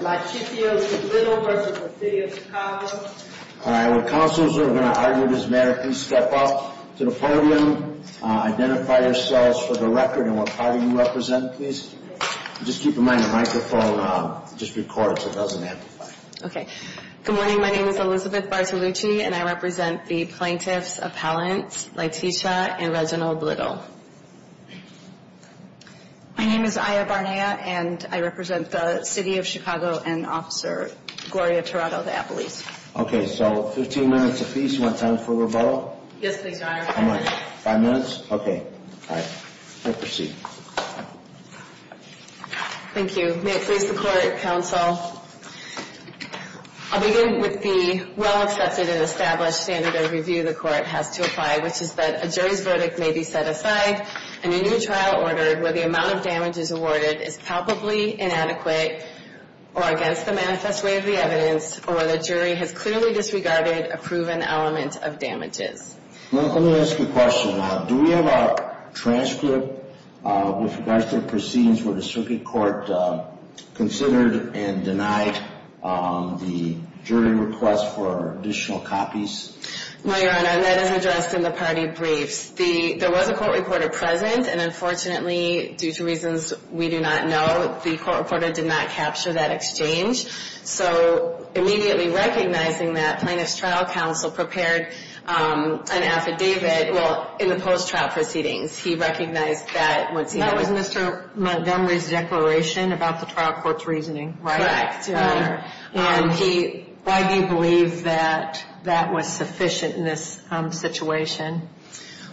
Laetitia O. Blittle v. City of Chicago All right, would counselors who are going to argue this matter please step up to the podium. Identify yourselves for the record and what party you represent, please. Just keep in mind the microphone just records, it doesn't amplify. Okay. Good morning, my name is Elizabeth Bartolucci and I represent the plaintiffs Appellants Laetitia and Reginald Blittle. My name is Aya Barnea and I represent the City of Chicago and Officer Gloria Tirado of the Appellees. Okay, so 15 minutes apiece. You want time for rebuttal? Yes, please, Your Honor. How much? Five minutes? Okay. All right. You may proceed. Thank you. May it please the court, counsel, I'll begin with the well-accepted and established standard of review the court has to apply, which is that a jury's verdict may be set aside in a new trial order where the amount of damages awarded is palpably inadequate or against the manifest way of the evidence or the jury has clearly disregarded a proven element of damages. Let me ask you a question. Do we have a transcript with regards to the proceedings where the circuit court considered and denied the jury request for additional copies? My Honor, that is addressed in the party briefs. There was a court reporter present, and unfortunately, due to reasons we do not know, the court reporter did not capture that exchange. So immediately recognizing that, Plaintiff's Trial Counsel prepared an affidavit, well, in the post-trial proceedings. He recognized that. That was Mr. Montgomery's declaration about the trial court's reasoning. Correct, Your Honor. And he, why do you believe that that was sufficient in this situation?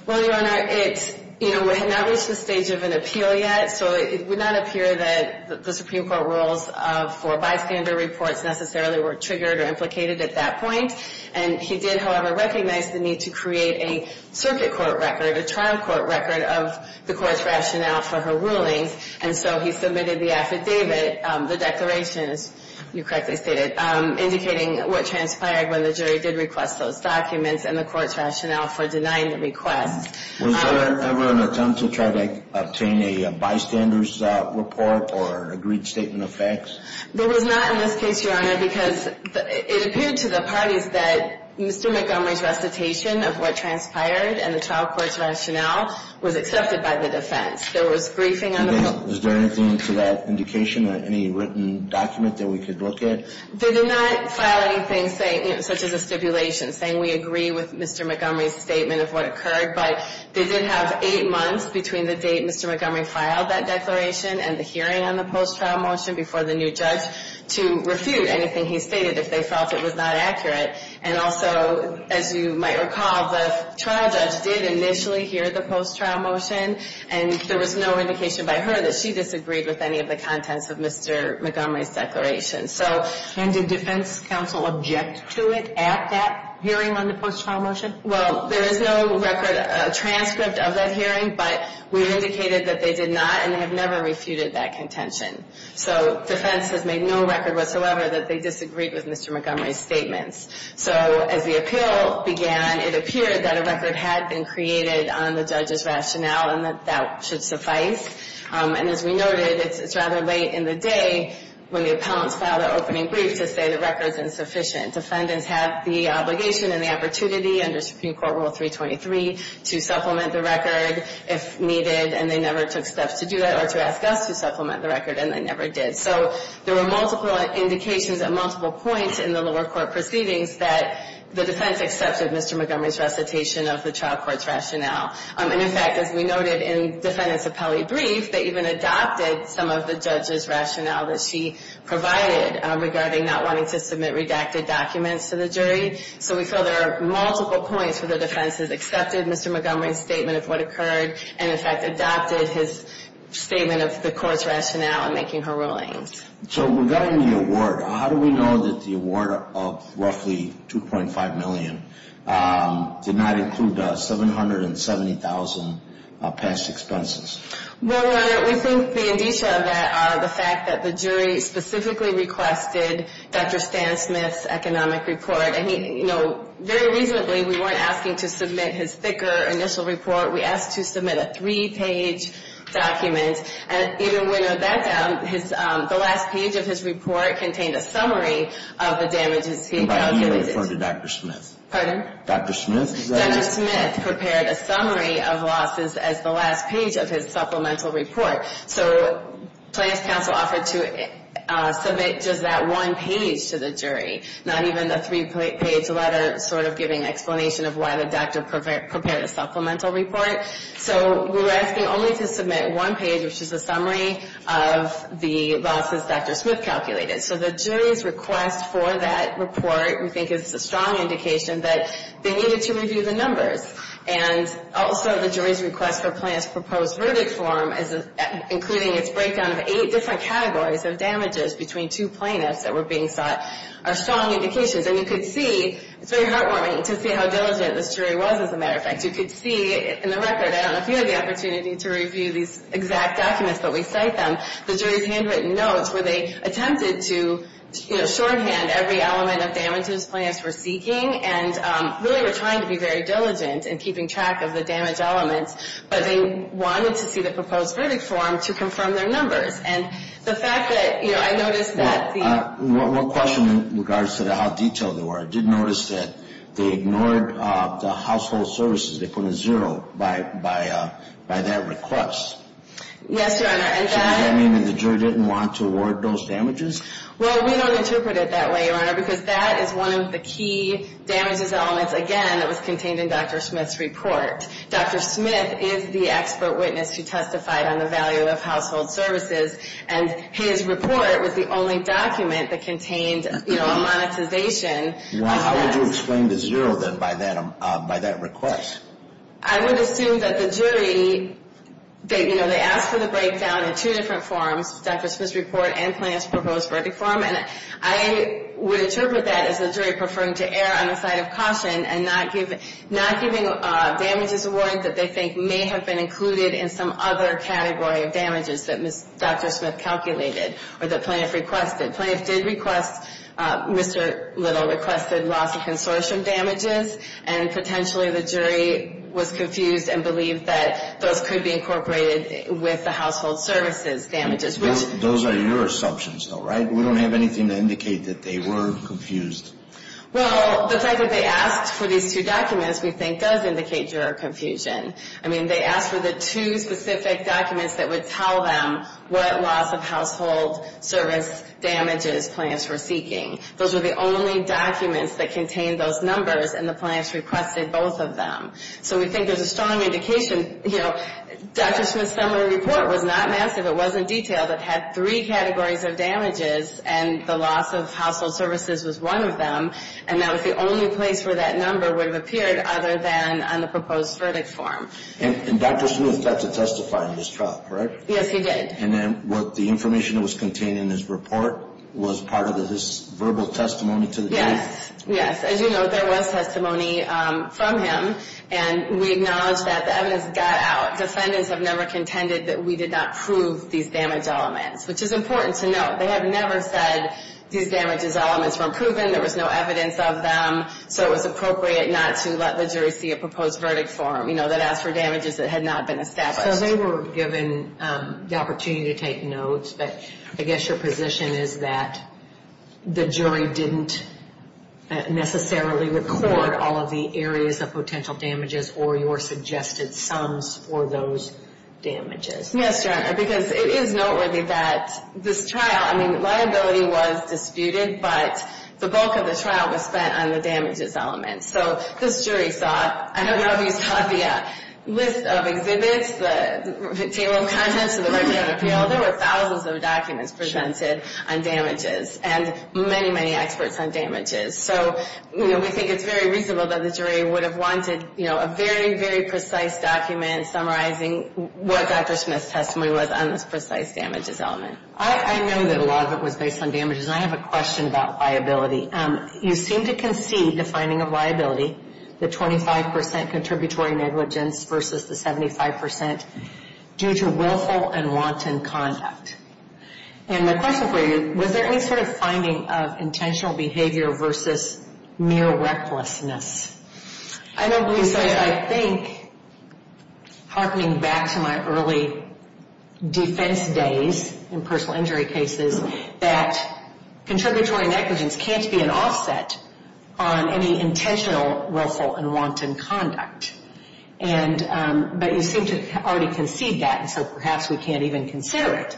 Well, Your Honor, it's, you know, we have not reached the stage of an appeal yet. So it would not appear that the Supreme Court rules for bystander reports necessarily were triggered or implicated at that point. And he did, however, recognize the need to create a circuit court record, a trial court record of the court's rationale for her rulings. And so he submitted the affidavit, the declaration, as you correctly stated, indicating what transpired when the jury did request those documents and the court's rationale for denying the request. Was there ever an attempt to try to obtain a bystander's report or agreed statement of facts? There was not in this case, Your Honor, because it appeared to the parties that Mr. Montgomery's recitation of what transpired and the trial court's rationale was accepted by the defense. There was briefing on the court's rationale. Is there anything to that indication, any written document that we could look at? They did not file anything such as a stipulation saying we agree with Mr. Montgomery's statement of what occurred. But they did have eight months between the date Mr. Montgomery filed that declaration and the hearing on the post-trial motion before the new judge to refute anything he stated if they felt it was not accurate. And also, as you might recall, the trial judge did initially hear the post-trial motion and there was no indication by her that she disagreed with any of the contents of Mr. Montgomery's declaration. And did defense counsel object to it at that hearing on the post-trial motion? Well, there is no record, transcript of that hearing, but we indicated that they did not and have never refuted that contention. So defense has made no record whatsoever that they disagreed with Mr. Montgomery's statements. So as the appeal began, it appeared that a record had been created on the judge's rationale and that that should suffice. And as we noted, it's rather late in the day when the appellants file their opening brief to say the record is insufficient. Defendants have the obligation and the opportunity under Supreme Court Rule 323 to supplement the record if needed and they never took steps to do that or to ask us to supplement the record and they never did. So there were multiple indications at multiple points in the lower court proceedings that the defense accepted Mr. Montgomery's recitation of the trial court's rationale. And in fact, as we noted in defendant's appellee brief, they even adopted some of the judge's rationale that she provided regarding not wanting to submit redacted documents to the jury. So we feel there are multiple points where the defense has accepted Mr. Montgomery's statement of what occurred and in fact adopted his statement of the court's rationale in making her rulings. So regarding the award, how do we know that the award of roughly $2.5 million did not include the $770,000 past expenses? Well, Your Honor, we think the indicia of that are the fact that the jury specifically requested Dr. Stan Smith's economic report and, you know, very reasonably, we weren't asking to submit his thicker initial report. We asked to submit a three-page document. And even when we wrote that down, the last page of his report contained a summary of the damages he accounted for. And by he, you're referring to Dr. Smith. Pardon? Dr. Smith is that it? Dr. Smith prepared a summary of losses as the last page of his supplemental report. So Plans Council offered to submit just that one page to the jury, not even a three-page letter sort of giving explanation of why the doctor prepared a supplemental report. So we were asking only to submit one page, which is a summary of the losses Dr. Smith calculated. So the jury's request for that report, we think, is a strong indication that they needed to review the numbers. And also the jury's request for Plans' proposed verdict form, including its breakdown of eight different categories of damages between two plaintiffs that were being sought, are strong indications. And you could see, it's very heartwarming to see how diligent this jury was, as a matter of fact. You could see in the record, I don't know if you had the opportunity to review these exact documents, but we cite them, the jury's handwritten notes where they attempted to, you know, shorthand every element of damages Plans were seeking and really were trying to be very diligent in keeping track of the damage elements, but they wanted to see the proposed verdict form to confirm their numbers. And the fact that, you know, I noticed that the... One question in regards to how detailed they were. I did notice that they ignored the household services. They put a zero by that request. Yes, Your Honor, and that... So does that mean that the jury didn't want to award those damages? Well, we don't interpret it that way, Your Honor, because that is one of the key damages elements, again, that was contained in Dr. Smith's report. Dr. Smith is the expert witness who testified on the value of household services, and his report was the only document that contained, you know, a monetization. How would you explain the zero, then, by that request? I would assume that the jury, you know, they asked for the breakdown in two different forms, Dr. Smith's report and Plaintiff's proposed verdict form, and I would interpret that as the jury preferring to err on the side of caution and not giving damages award that they think may have been included in some other category of damages that Dr. Smith calculated or that Plaintiff requested. Plaintiff did request Mr. Little requested loss of consortium damages, and potentially the jury was confused and believed that those could be incorporated with the household services damages. Those are your assumptions, though, right? We don't have anything to indicate that they were confused. Well, the fact that they asked for these two documents, we think, does indicate your confusion. I mean, they asked for the two specific documents that would tell them what loss of household service damages Plaintiffs were seeking. Those were the only documents that contained those numbers, and the Plaintiffs requested both of them. So we think there's a strong indication, you know, Dr. Smith's summary report was not massive. It wasn't detailed. It had three categories of damages, and the loss of household services was one of them, and that was the only place where that number would have appeared other than on the proposed verdict form. And Dr. Smith got to testify in this trial, correct? Yes, he did. And then the information that was contained in his report was part of his verbal testimony to the jury? Yes, yes. As you know, there was testimony from him, and we acknowledge that the evidence got out. Defendants have never contended that we did not prove these damage elements, which is important to note. They have never said these damage elements were proven, there was no evidence of them, so it was appropriate not to let the jury see a proposed verdict form, you know, that asked for damages that had not been established. So they were given the opportunity to take notes, but I guess your position is that the jury didn't necessarily record all of the areas of potential damages or your suggested sums for those damages. Yes, because it is noteworthy that this trial, I mean, liability was disputed, but the bulk of the trial was spent on the damages elements. So this jury saw, I don't know if you saw the list of exhibits, the table of contents of the record of appeal. Well, there were thousands of documents presented on damages and many, many experts on damages. So, you know, we think it's very reasonable that the jury would have wanted, you know, a very, very precise document summarizing what Dr. Smith's testimony was on this precise damages element. I know that a lot of it was based on damages, and I have a question about liability. You seem to concede the finding of liability, the 25 percent contributory negligence versus the 75 percent due to willful and wanton conduct. And my question for you, was there any sort of finding of intentional behavior versus mere recklessness? I don't believe so. I think, hearkening back to my early defense days in personal injury cases, that contributory negligence can't be an offset on any intentional, willful, and wanton conduct. And, but you seem to already concede that, so perhaps we can't even consider it.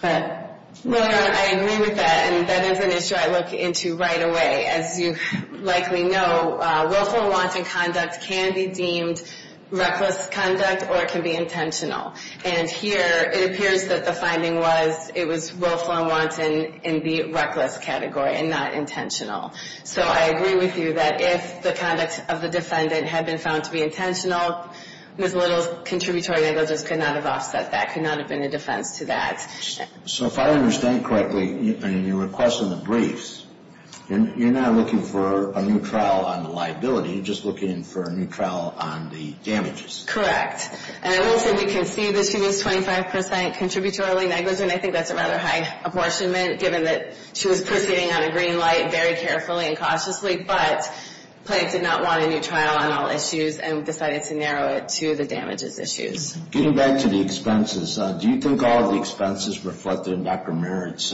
But, Laura, I agree with that, and that is an issue I look into right away. As you likely know, willful and wanton conduct can be deemed reckless conduct or it can be intentional. And here, it appears that the finding was, it was willful and wanton in the reckless category and not intentional. So I agree with you that if the conduct of the defendant had been found to be intentional, Ms. Little's contributory negligence could not have offset that, could not have been a defense to that. So if I understand correctly, in your request in the briefs, you're not looking for a new trial on the liability, you're just looking for a new trial on the damages. Correct. And I will say we concede that she was 25 percent contributory negligent. And I think that's a rather high apportionment, given that she was proceeding on a green light very carefully and cautiously, but the plaintiff did not want a new trial on all issues and decided to narrow it to the damages issues. Getting back to the expenses, do you think all of the expenses reflected in Dr. Merritt's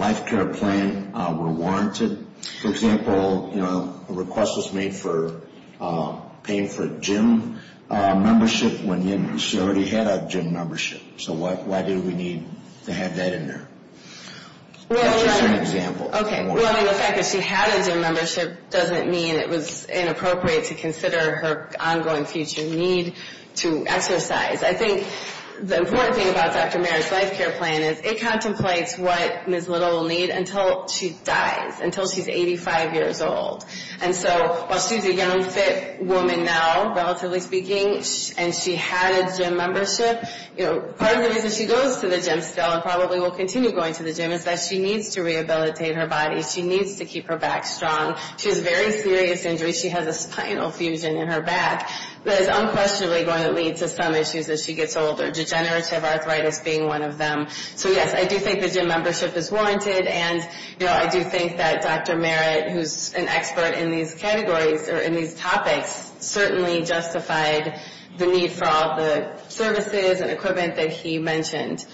life care plan were warranted? For example, a request was made for paying for gym membership when she already had a gym membership. So why did we need to have that in there? Well, the fact that she had a gym membership doesn't mean it was inappropriate to consider her ongoing future need to exercise. I think the important thing about Dr. Merritt's life care plan is it contemplates what Ms. Little will need until she dies, until she's 85 years old. And so while she's a young, fit woman now, relatively speaking, and she had a gym membership, part of the reason she goes to the gym still and probably will continue going to the gym is that she needs to rehabilitate her body. She needs to keep her back strong. She has very serious injuries. She has a spinal fusion in her back that is unquestionably going to lead to some issues as she gets older, degenerative arthritis being one of them. So, yes, I do think the gym membership is warranted. And, you know, I do think that Dr. Merritt, who's an expert in these categories or in these topics, certainly justified the need for all the services and equipment that he mentioned.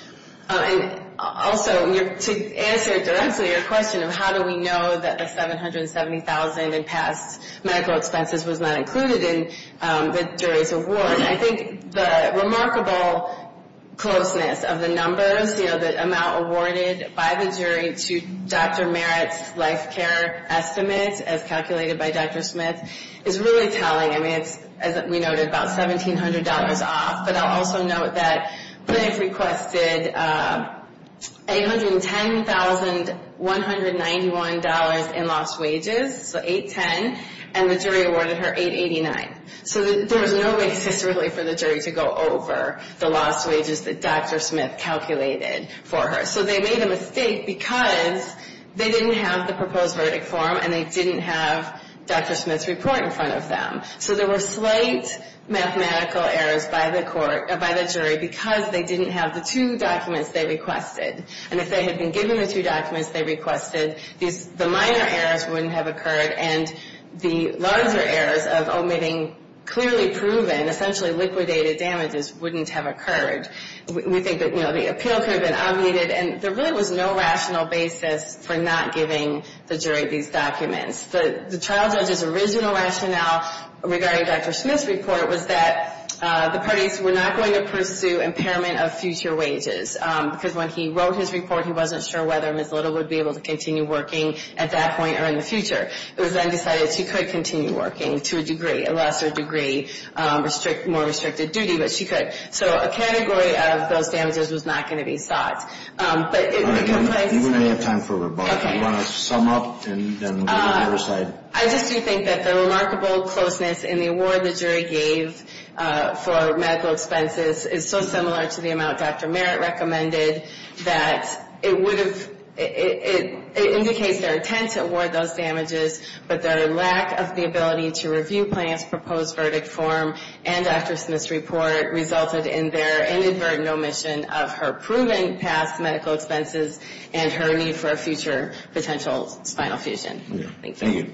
Also, to answer directly your question of how do we know that the $770,000 in past medical expenses was not included in the jury's award, I think the remarkable closeness of the numbers, you know, the amount awarded by the jury to Dr. Merritt's life care estimates, as calculated by Dr. Smith, is really telling. I mean, it's, as we noted, about $1,700 off. But I'll also note that Cliff requested $810,191 in lost wages, so $810,000, and the jury awarded her $889,000. So there was no basis, really, for the jury to go over the lost wages that Dr. Smith calculated for her. So they made a mistake because they didn't have the proposed verdict form and they didn't have Dr. Smith's report in front of them. So there were slight mathematical errors by the jury because they didn't have the two documents they requested. And if they had been given the two documents they requested, the minor errors wouldn't have occurred and the larger errors of omitting clearly proven, essentially liquidated damages wouldn't have occurred. We think that, you know, the appeal could have been obviated, and there really was no rational basis for not giving the jury these documents. The trial judge's original rationale regarding Dr. Smith's report was that the parties were not going to pursue impairment of future wages because when he wrote his report, he wasn't sure whether Ms. Little would be able to continue working at that point or in the future. It was then decided she could continue working to a degree, a lesser degree, more restricted duty, but she could. So a category of those damages was not going to be sought. But it would have been placed... You don't have time for rebuttal. Okay. Do you want to sum up and then go to the other side? I just do think that the remarkable closeness in the award the jury gave for medical expenses is so similar to the amount Dr. Merritt recommended that it would have... It indicates their intent to award those damages, but their lack of the ability to review Plante's proposed verdict form and Dr. Smith's report resulted in their inadvertent omission of her proven past medical expenses and her need for a future potential spinal fusion. Thank you. Thank you.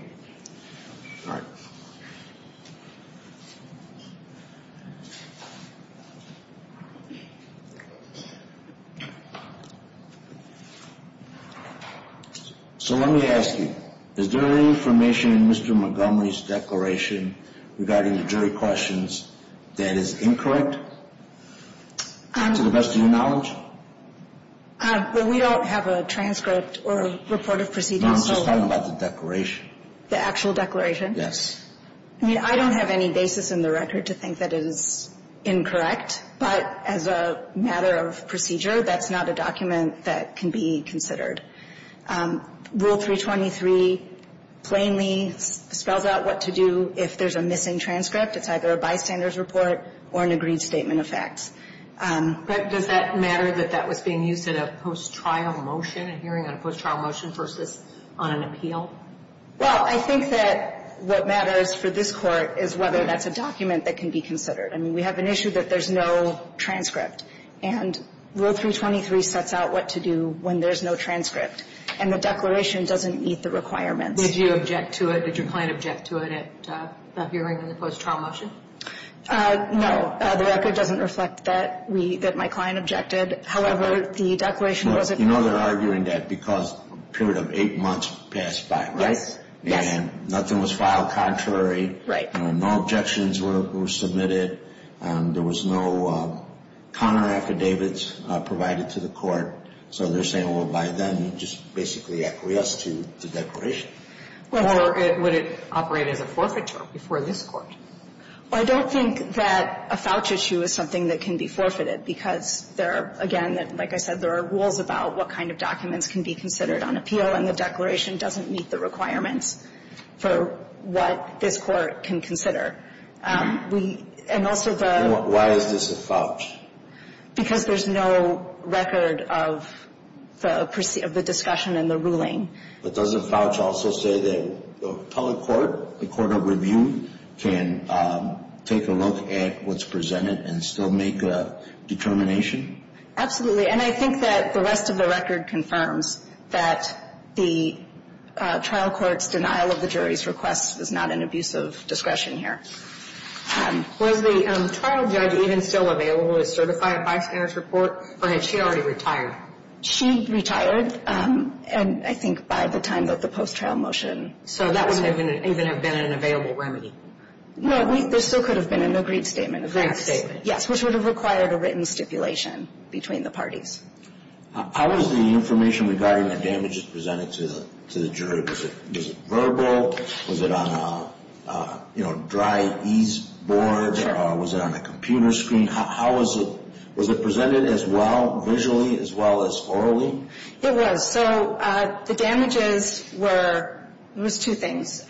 All right. So let me ask you, is there any information in Mr. Montgomery's declaration regarding the jury questions that is incorrect, to the best of your knowledge? Well, we don't have a transcript or a report of proceedings. No, I'm just talking about the declaration. The actual declaration? Yes. I mean, I don't have any basis in the record to think that it is incorrect, but as a matter of procedure, that's not a document that can be considered. Rule 323 plainly spells out what to do if there's a missing transcript. It's either a bystander's report or an agreed statement of facts. But does that matter that that was being used in a post-trial motion, a hearing on a post-trial motion versus on an appeal? Well, I think that what matters for this Court is whether that's a document that can be considered. I mean, we have an issue that there's no transcript, and Rule 323 sets out what to do when there's no transcript, and the declaration doesn't meet the requirements. Did you object to it? Did your client object to it at a hearing in the post-trial motion? No. The record doesn't reflect that my client objected. However, the declaration was a permit. You know they're arguing that because a period of eight months passed by, right? And nothing was filed contrary. Right. No objections were submitted. There was no counteraffidavits provided to the Court. So they're saying, well, by then, you just basically acquiesced to the declaration. Or would it operate as a forfeiture before this Court? I don't think that a voucher issue is something that can be forfeited because there are, again, like I said, there are rules about what kind of documents can be considered on appeal, and the declaration doesn't meet the requirements for what this Court can consider. And also the – Why is this a voucher? Because there's no record of the discussion and the ruling. But does a voucher also say that the public court, the court of review, can take a look at what's presented and still make a determination? Absolutely. And I think that the rest of the record confirms that the trial court's denial of the jury's request is not an abuse of discretion here. Was the trial judge even still available to certify a bystander's report, or had she already retired? She retired. And I think by the time that the post-trial motion – So that wouldn't even have been an available remedy. No, there still could have been an agreed statement. Agreed statement. Yes, which would have required a written stipulation between the parties. How was the information regarding the damages presented to the jury? Was it verbal? Was it on a, you know, dry-ease board? Sure. Was it on a computer screen? How was it – was it presented as well visually as well as orally? It was. So the damages were – it was two things.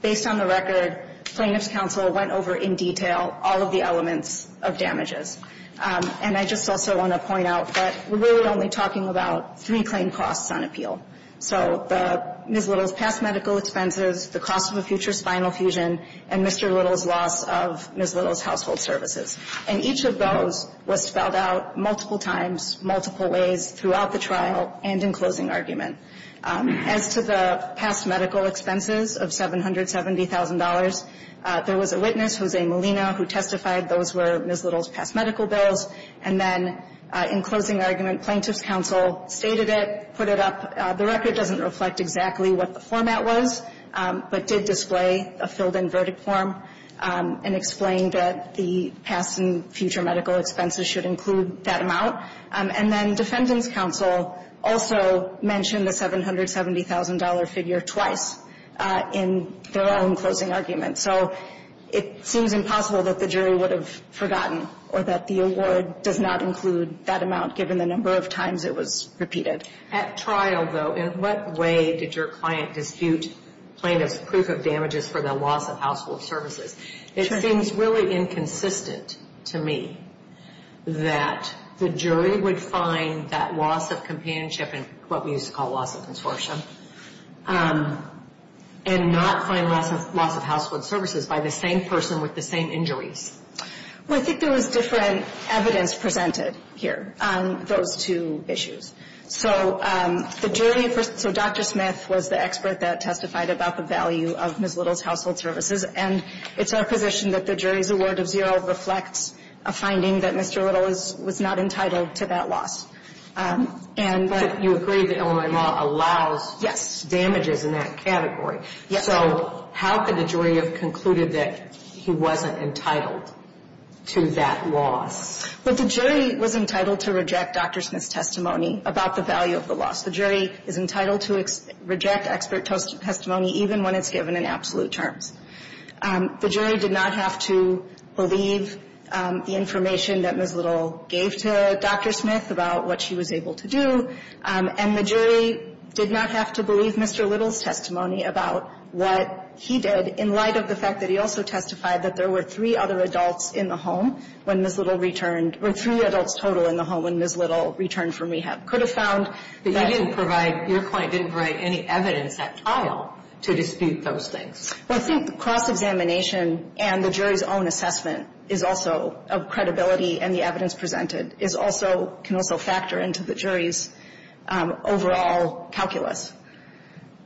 Based on the record, plaintiff's counsel went over in detail all of the elements of damages. And I just also want to point out that we're really only talking about three claim costs on appeal. So Ms. Little's past medical expenses, the cost of a future spinal fusion, and Mr. Little's loss of Ms. Little's household services. And each of those was spelled out multiple times, multiple ways throughout the trial and in closing argument. As to the past medical expenses of $770,000, there was a witness, Jose Molina, who testified those were Ms. Little's past medical bills. And then in closing argument, plaintiff's counsel stated it, put it up. The record doesn't reflect exactly what the format was, but did display a filled-in verdict form and explained that the past and future medical expenses should include that amount. And then defendant's counsel also mentioned the $770,000 figure twice in their own closing argument. So it seems impossible that the jury would have forgotten or that the award does not include that amount given the number of times it was repeated. At trial, though, in what way did your client dispute plaintiff's proof of damages for the loss of household services? It seems really inconsistent to me that the jury would find that loss of companionship and what we used to call loss of consortium and not find loss of household services by the same person with the same injuries. Well, I think there was different evidence presented here on those two issues. So the jury, so Dr. Smith was the expert that testified about the value of Ms. Little's household services. And it's our position that the jury's award of zero reflects a finding that Mr. Little was not entitled to that loss. But you agree that Illinois law allows damages in that category. Yes. So how could the jury have concluded that he wasn't entitled to that loss? Well, the jury was entitled to reject Dr. Smith's testimony about the value of the loss. The jury is entitled to reject expert testimony even when it's given in absolute terms. The jury did not have to believe the information that Ms. Little gave to Dr. Smith about what she was able to do. And the jury did not have to believe Mr. Little's testimony about what he did in light of the fact that he also testified that there were three other adults in the home when Ms. Little returned or three adults total in the home when Ms. Little returned from rehab. Could have found that he didn't provide, your point, didn't provide any evidence at all to dispute those things. Well, I think cross-examination and the jury's own assessment is also of credibility and the evidence presented is also, can also factor into the jury's overall calculus.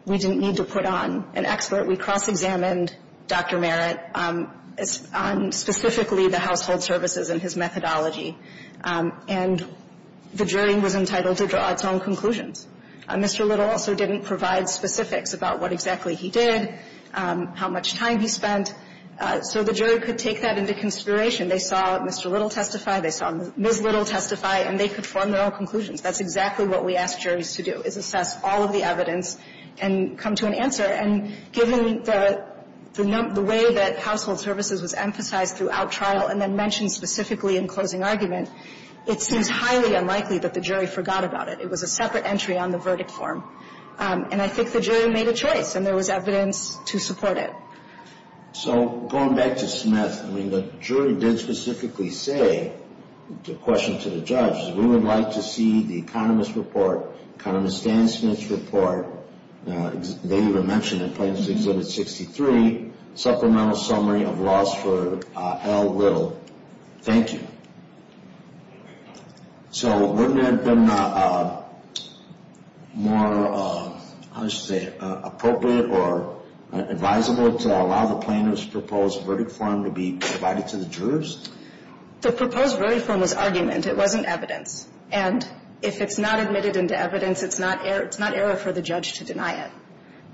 We didn't need to put on an expert. We cross-examined Dr. Merritt on specifically the household services and his methodology. And the jury was entitled to draw its own conclusions. Mr. Little also didn't provide specifics about what exactly he did, how much time he spent. So the jury could take that into consideration. They saw Mr. Little testify, they saw Ms. Little testify, and they could form their own conclusions. That's exactly what we ask juries to do, is assess all of the evidence and come to an answer. And given the way that household services was emphasized throughout trial and then mentioned specifically in closing argument, it seems highly unlikely that the jury forgot about it. It was a separate entry on the verdict form. And I think the jury made a choice and there was evidence to support it. So going back to Smith, I mean, the jury did specifically say, the question to the judge, we would like to see the economist's report, economist Dan Smith's report, they even mentioned in Plaintiff's Exhibit 63, supplemental summary of laws for L. Little. Thank you. So wouldn't it have been more, how should I say it, appropriate or advisable to allow the plaintiff's proposed verdict form to be provided to the jurors? The proposed verdict form was argument. It wasn't evidence. And if it's not admitted into evidence, it's not error for the judge to deny it.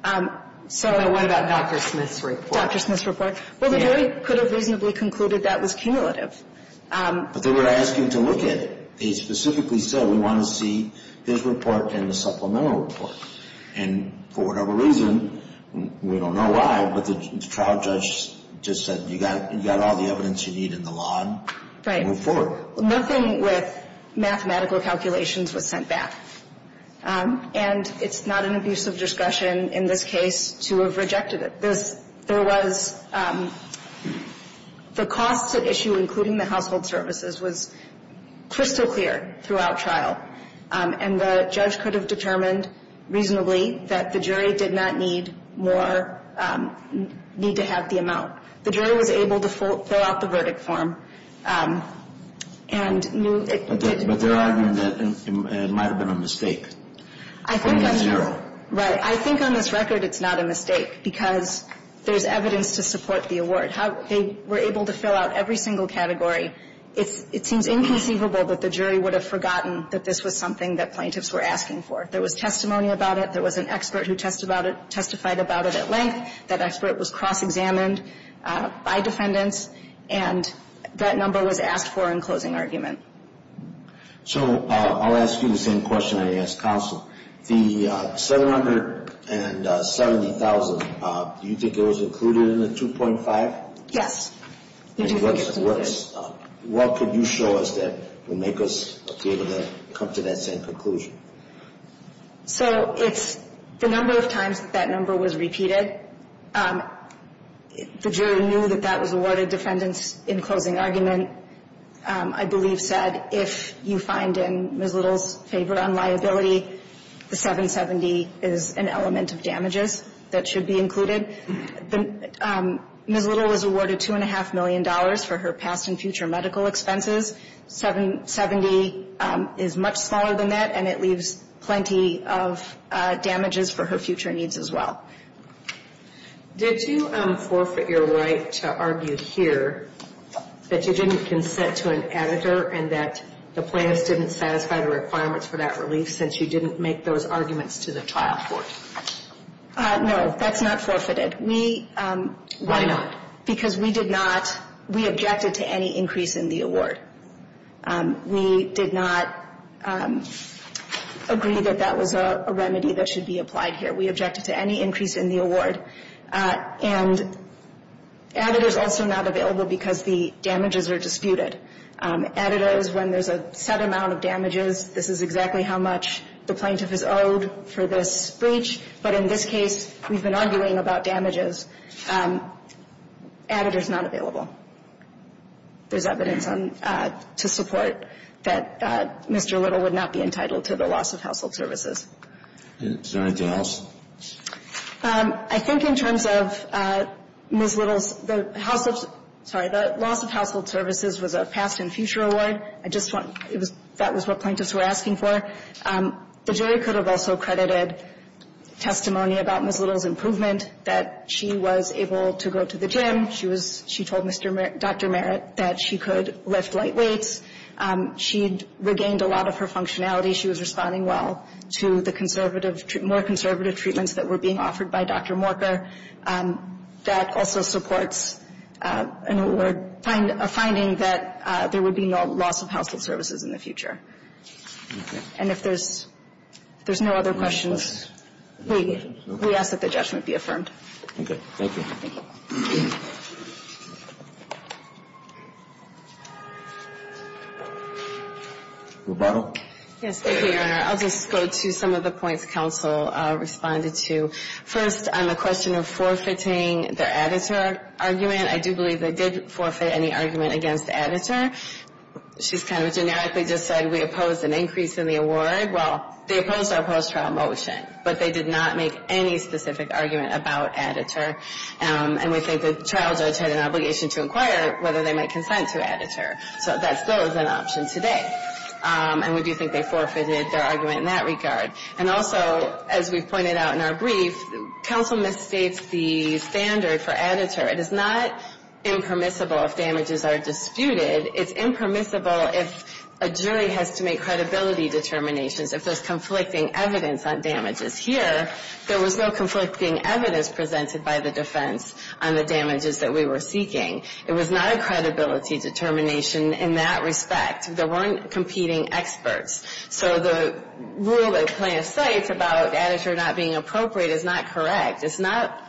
What about Dr. Smith's report? Dr. Smith's report. Well, the jury could have reasonably concluded that was cumulative. But they were asking to look at it. They specifically said, we want to see his report and the supplemental report. And for whatever reason, we don't know why, but the trial judge just said, you've got all the evidence you need in the law. Right. Move forward. Nothing with mathematical calculations was sent back. And it's not an abuse of discretion in this case to have rejected it. There was the cost at issue, including the household services, was crystal clear throughout trial. And the judge could have determined reasonably that the jury did not need more, need to have the amount. The jury was able to fill out the verdict form and knew it. But they're arguing that it might have been a mistake. Right. I think on this record it's not a mistake because there's evidence to support the award. They were able to fill out every single category. It seems inconceivable that the jury would have forgotten that this was something that plaintiffs were asking for. There was testimony about it. There was an expert who testified about it at length. That expert was cross-examined by defendants, and that number was asked for in closing argument. So I'll ask you the same question I asked counsel. The $770,000, do you think it was included in the 2.5? Yes. What could you show us that would make us be able to come to that same conclusion? So it's the number of times that that number was repeated. The jury knew that that was awarded defendants in closing argument. I believe said if you find in Ms. Little's favor on liability, the 770 is an element of damages that should be included. Ms. Little was awarded $2.5 million for her past and future medical expenses. 770 is much smaller than that, and it leaves plenty of damages for her future needs as well. Did you forfeit your right to argue here that you didn't consent to an editor and that the plaintiffs didn't satisfy the requirements for that relief since you didn't make those arguments to the trial court? No, that's not forfeited. Why not? Because we did not, we objected to any increase in the award. We did not agree that that was a remedy that should be applied here. We objected to any increase in the award. And editor is also not available because the damages are disputed. Editor is when there's a set amount of damages. This is exactly how much the plaintiff is owed for this breach. But in this case, we've been arguing about damages. Editor is not available. There's evidence to support that Mr. Little would not be entitled to the loss of household services. Is there anything else? I think in terms of Ms. Little's, the household, sorry, the loss of household services was a past and future award. I just want, that was what plaintiffs were asking for. The jury could have also credited testimony about Ms. Little's improvement, that she was able to go to the gym. She was, she told Dr. Merritt that she could lift light weights. She regained a lot of her functionality. She was responding well to the conservative, more conservative treatments that were being offered by Dr. Morker. That also supports an award, a finding that there would be no loss of household services in the future. Okay. And if there's no other questions, we ask that the judgment be affirmed. Okay. Thank you. Thank you. Yes, thank you, Your Honor. I'll just go to some of the points counsel responded to. First, on the question of forfeiting the editor argument, I do believe they did forfeit any argument against the editor. She's kind of generically just said we opposed an increase in the award. Well, they opposed our post-trial motion, but they did not make any specific argument about editor. And we think the trial judge had an obligation to inquire whether they might consent to editor. So that still is an option today. And we do think they forfeited their argument in that regard. And also, as we've pointed out in our brief, counsel misstates the standard for editor. It is not impermissible if damages are disputed. It's impermissible if a jury has to make credibility determinations if there's conflicting evidence on damages. Here, there was no conflicting evidence presented by the defense on the damages that we were seeking. It was not a credibility determination in that respect. There weren't competing experts. So the rule that the plaintiff cites about editor not being appropriate is not correct. It's not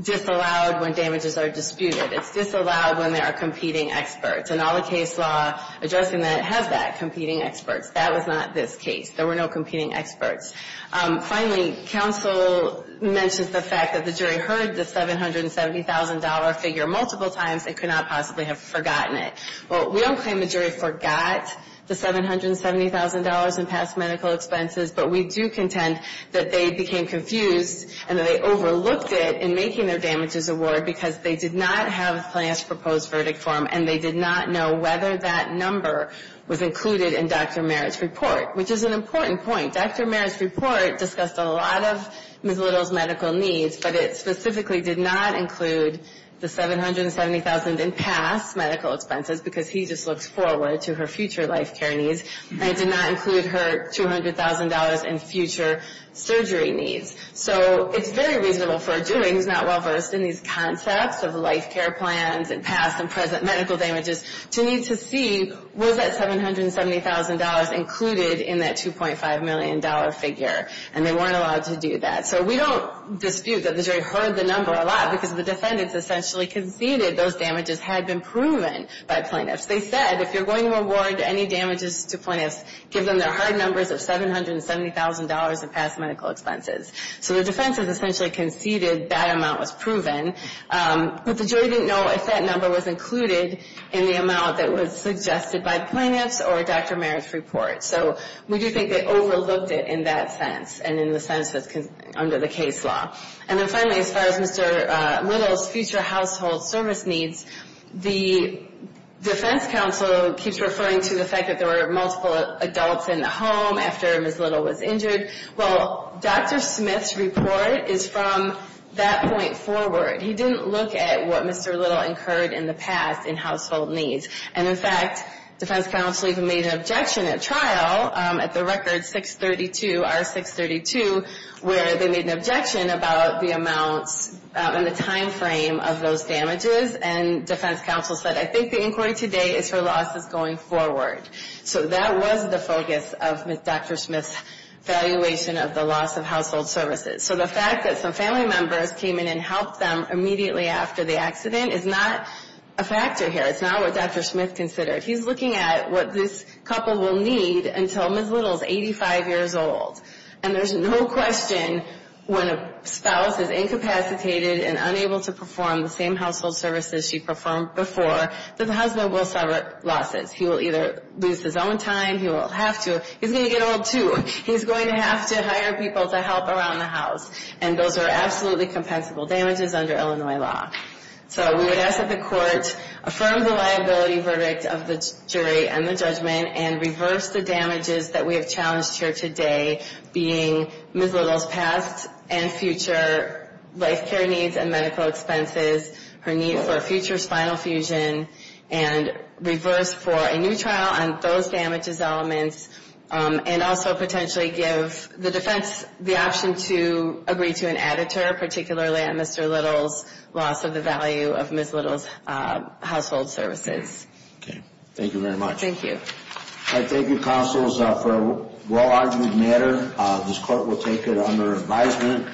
disallowed when damages are disputed. It's disallowed when there are competing experts. And all the case law addressing that has that, competing experts. That was not this case. There were no competing experts. Finally, counsel mentions the fact that the jury heard the $770,000 figure multiple times. They could not possibly have forgotten it. Well, we don't claim the jury forgot the $770,000 in past medical expenses, but we do contend that they became confused and that they overlooked it in making their damages award because they did not have the plaintiff's proposed verdict form, and they did not know whether that number was included in Dr. Merritt's report, which is an important point. Dr. Merritt's report discussed a lot of Ms. Little's medical needs, but it specifically did not include the $770,000 in past medical expenses because he just looks forward to her future life care needs. And it did not include her $200,000 in future surgery needs. So it's very reasonable for a jury who's not well-versed in these concepts of life care plans and past and present medical damages to need to see, was that $770,000 included in that $2.5 million figure? And they weren't allowed to do that. So we don't dispute that the jury heard the number a lot because the defendants essentially conceded those damages had been proven by plaintiffs. They said, if you're going to award any damages to plaintiffs, give them their hard numbers of $770,000 in past medical expenses. So the defense has essentially conceded that amount was proven, but the jury didn't know if that number was included in the amount that was suggested by the plaintiffs or Dr. Merritt's report. So we do think they overlooked it in that sense and in the sense that's under the case law. And then finally, as far as Mr. Little's future household service needs, the defense counsel keeps referring to the fact that there were multiple adults in the home after Ms. Little was injured. Well, Dr. Smith's report is from that point forward. He didn't look at what Mr. Little incurred in the past in household needs. And, in fact, defense counsel even made an objection at trial at the record 632, R632, where they made an objection about the amounts and the time frame of those damages. And defense counsel said, I think the inquiry today is for losses going forward. So that was the focus of Dr. Smith's evaluation of the loss of household services. So the fact that some family members came in and helped them immediately after the accident is not a factor here. It's not what Dr. Smith considered. He's looking at what this couple will need until Ms. Little is 85 years old. And there's no question when a spouse is incapacitated and unable to perform the same household services she performed before, that the husband will suffer losses. He will either lose his own time. He will have to. He's going to get old, too. He's going to have to hire people to help around the house. And those are absolutely compensable damages under Illinois law. So we would ask that the court affirm the liability verdict of the jury and the judgment and reverse the damages that we have challenged here today, being Ms. Little's past and future life care needs and medical expenses, her need for a future spinal fusion, and reverse for a new trial on those damages elements, and also potentially give the defense the option to agree to an editor, particularly on Mr. Little's loss of the value of Ms. Little's household services. Okay. Thank you. Thank you very much. Thank you. All right. Thank you, counsels. For a well-argued matter, this court will take it under advisement.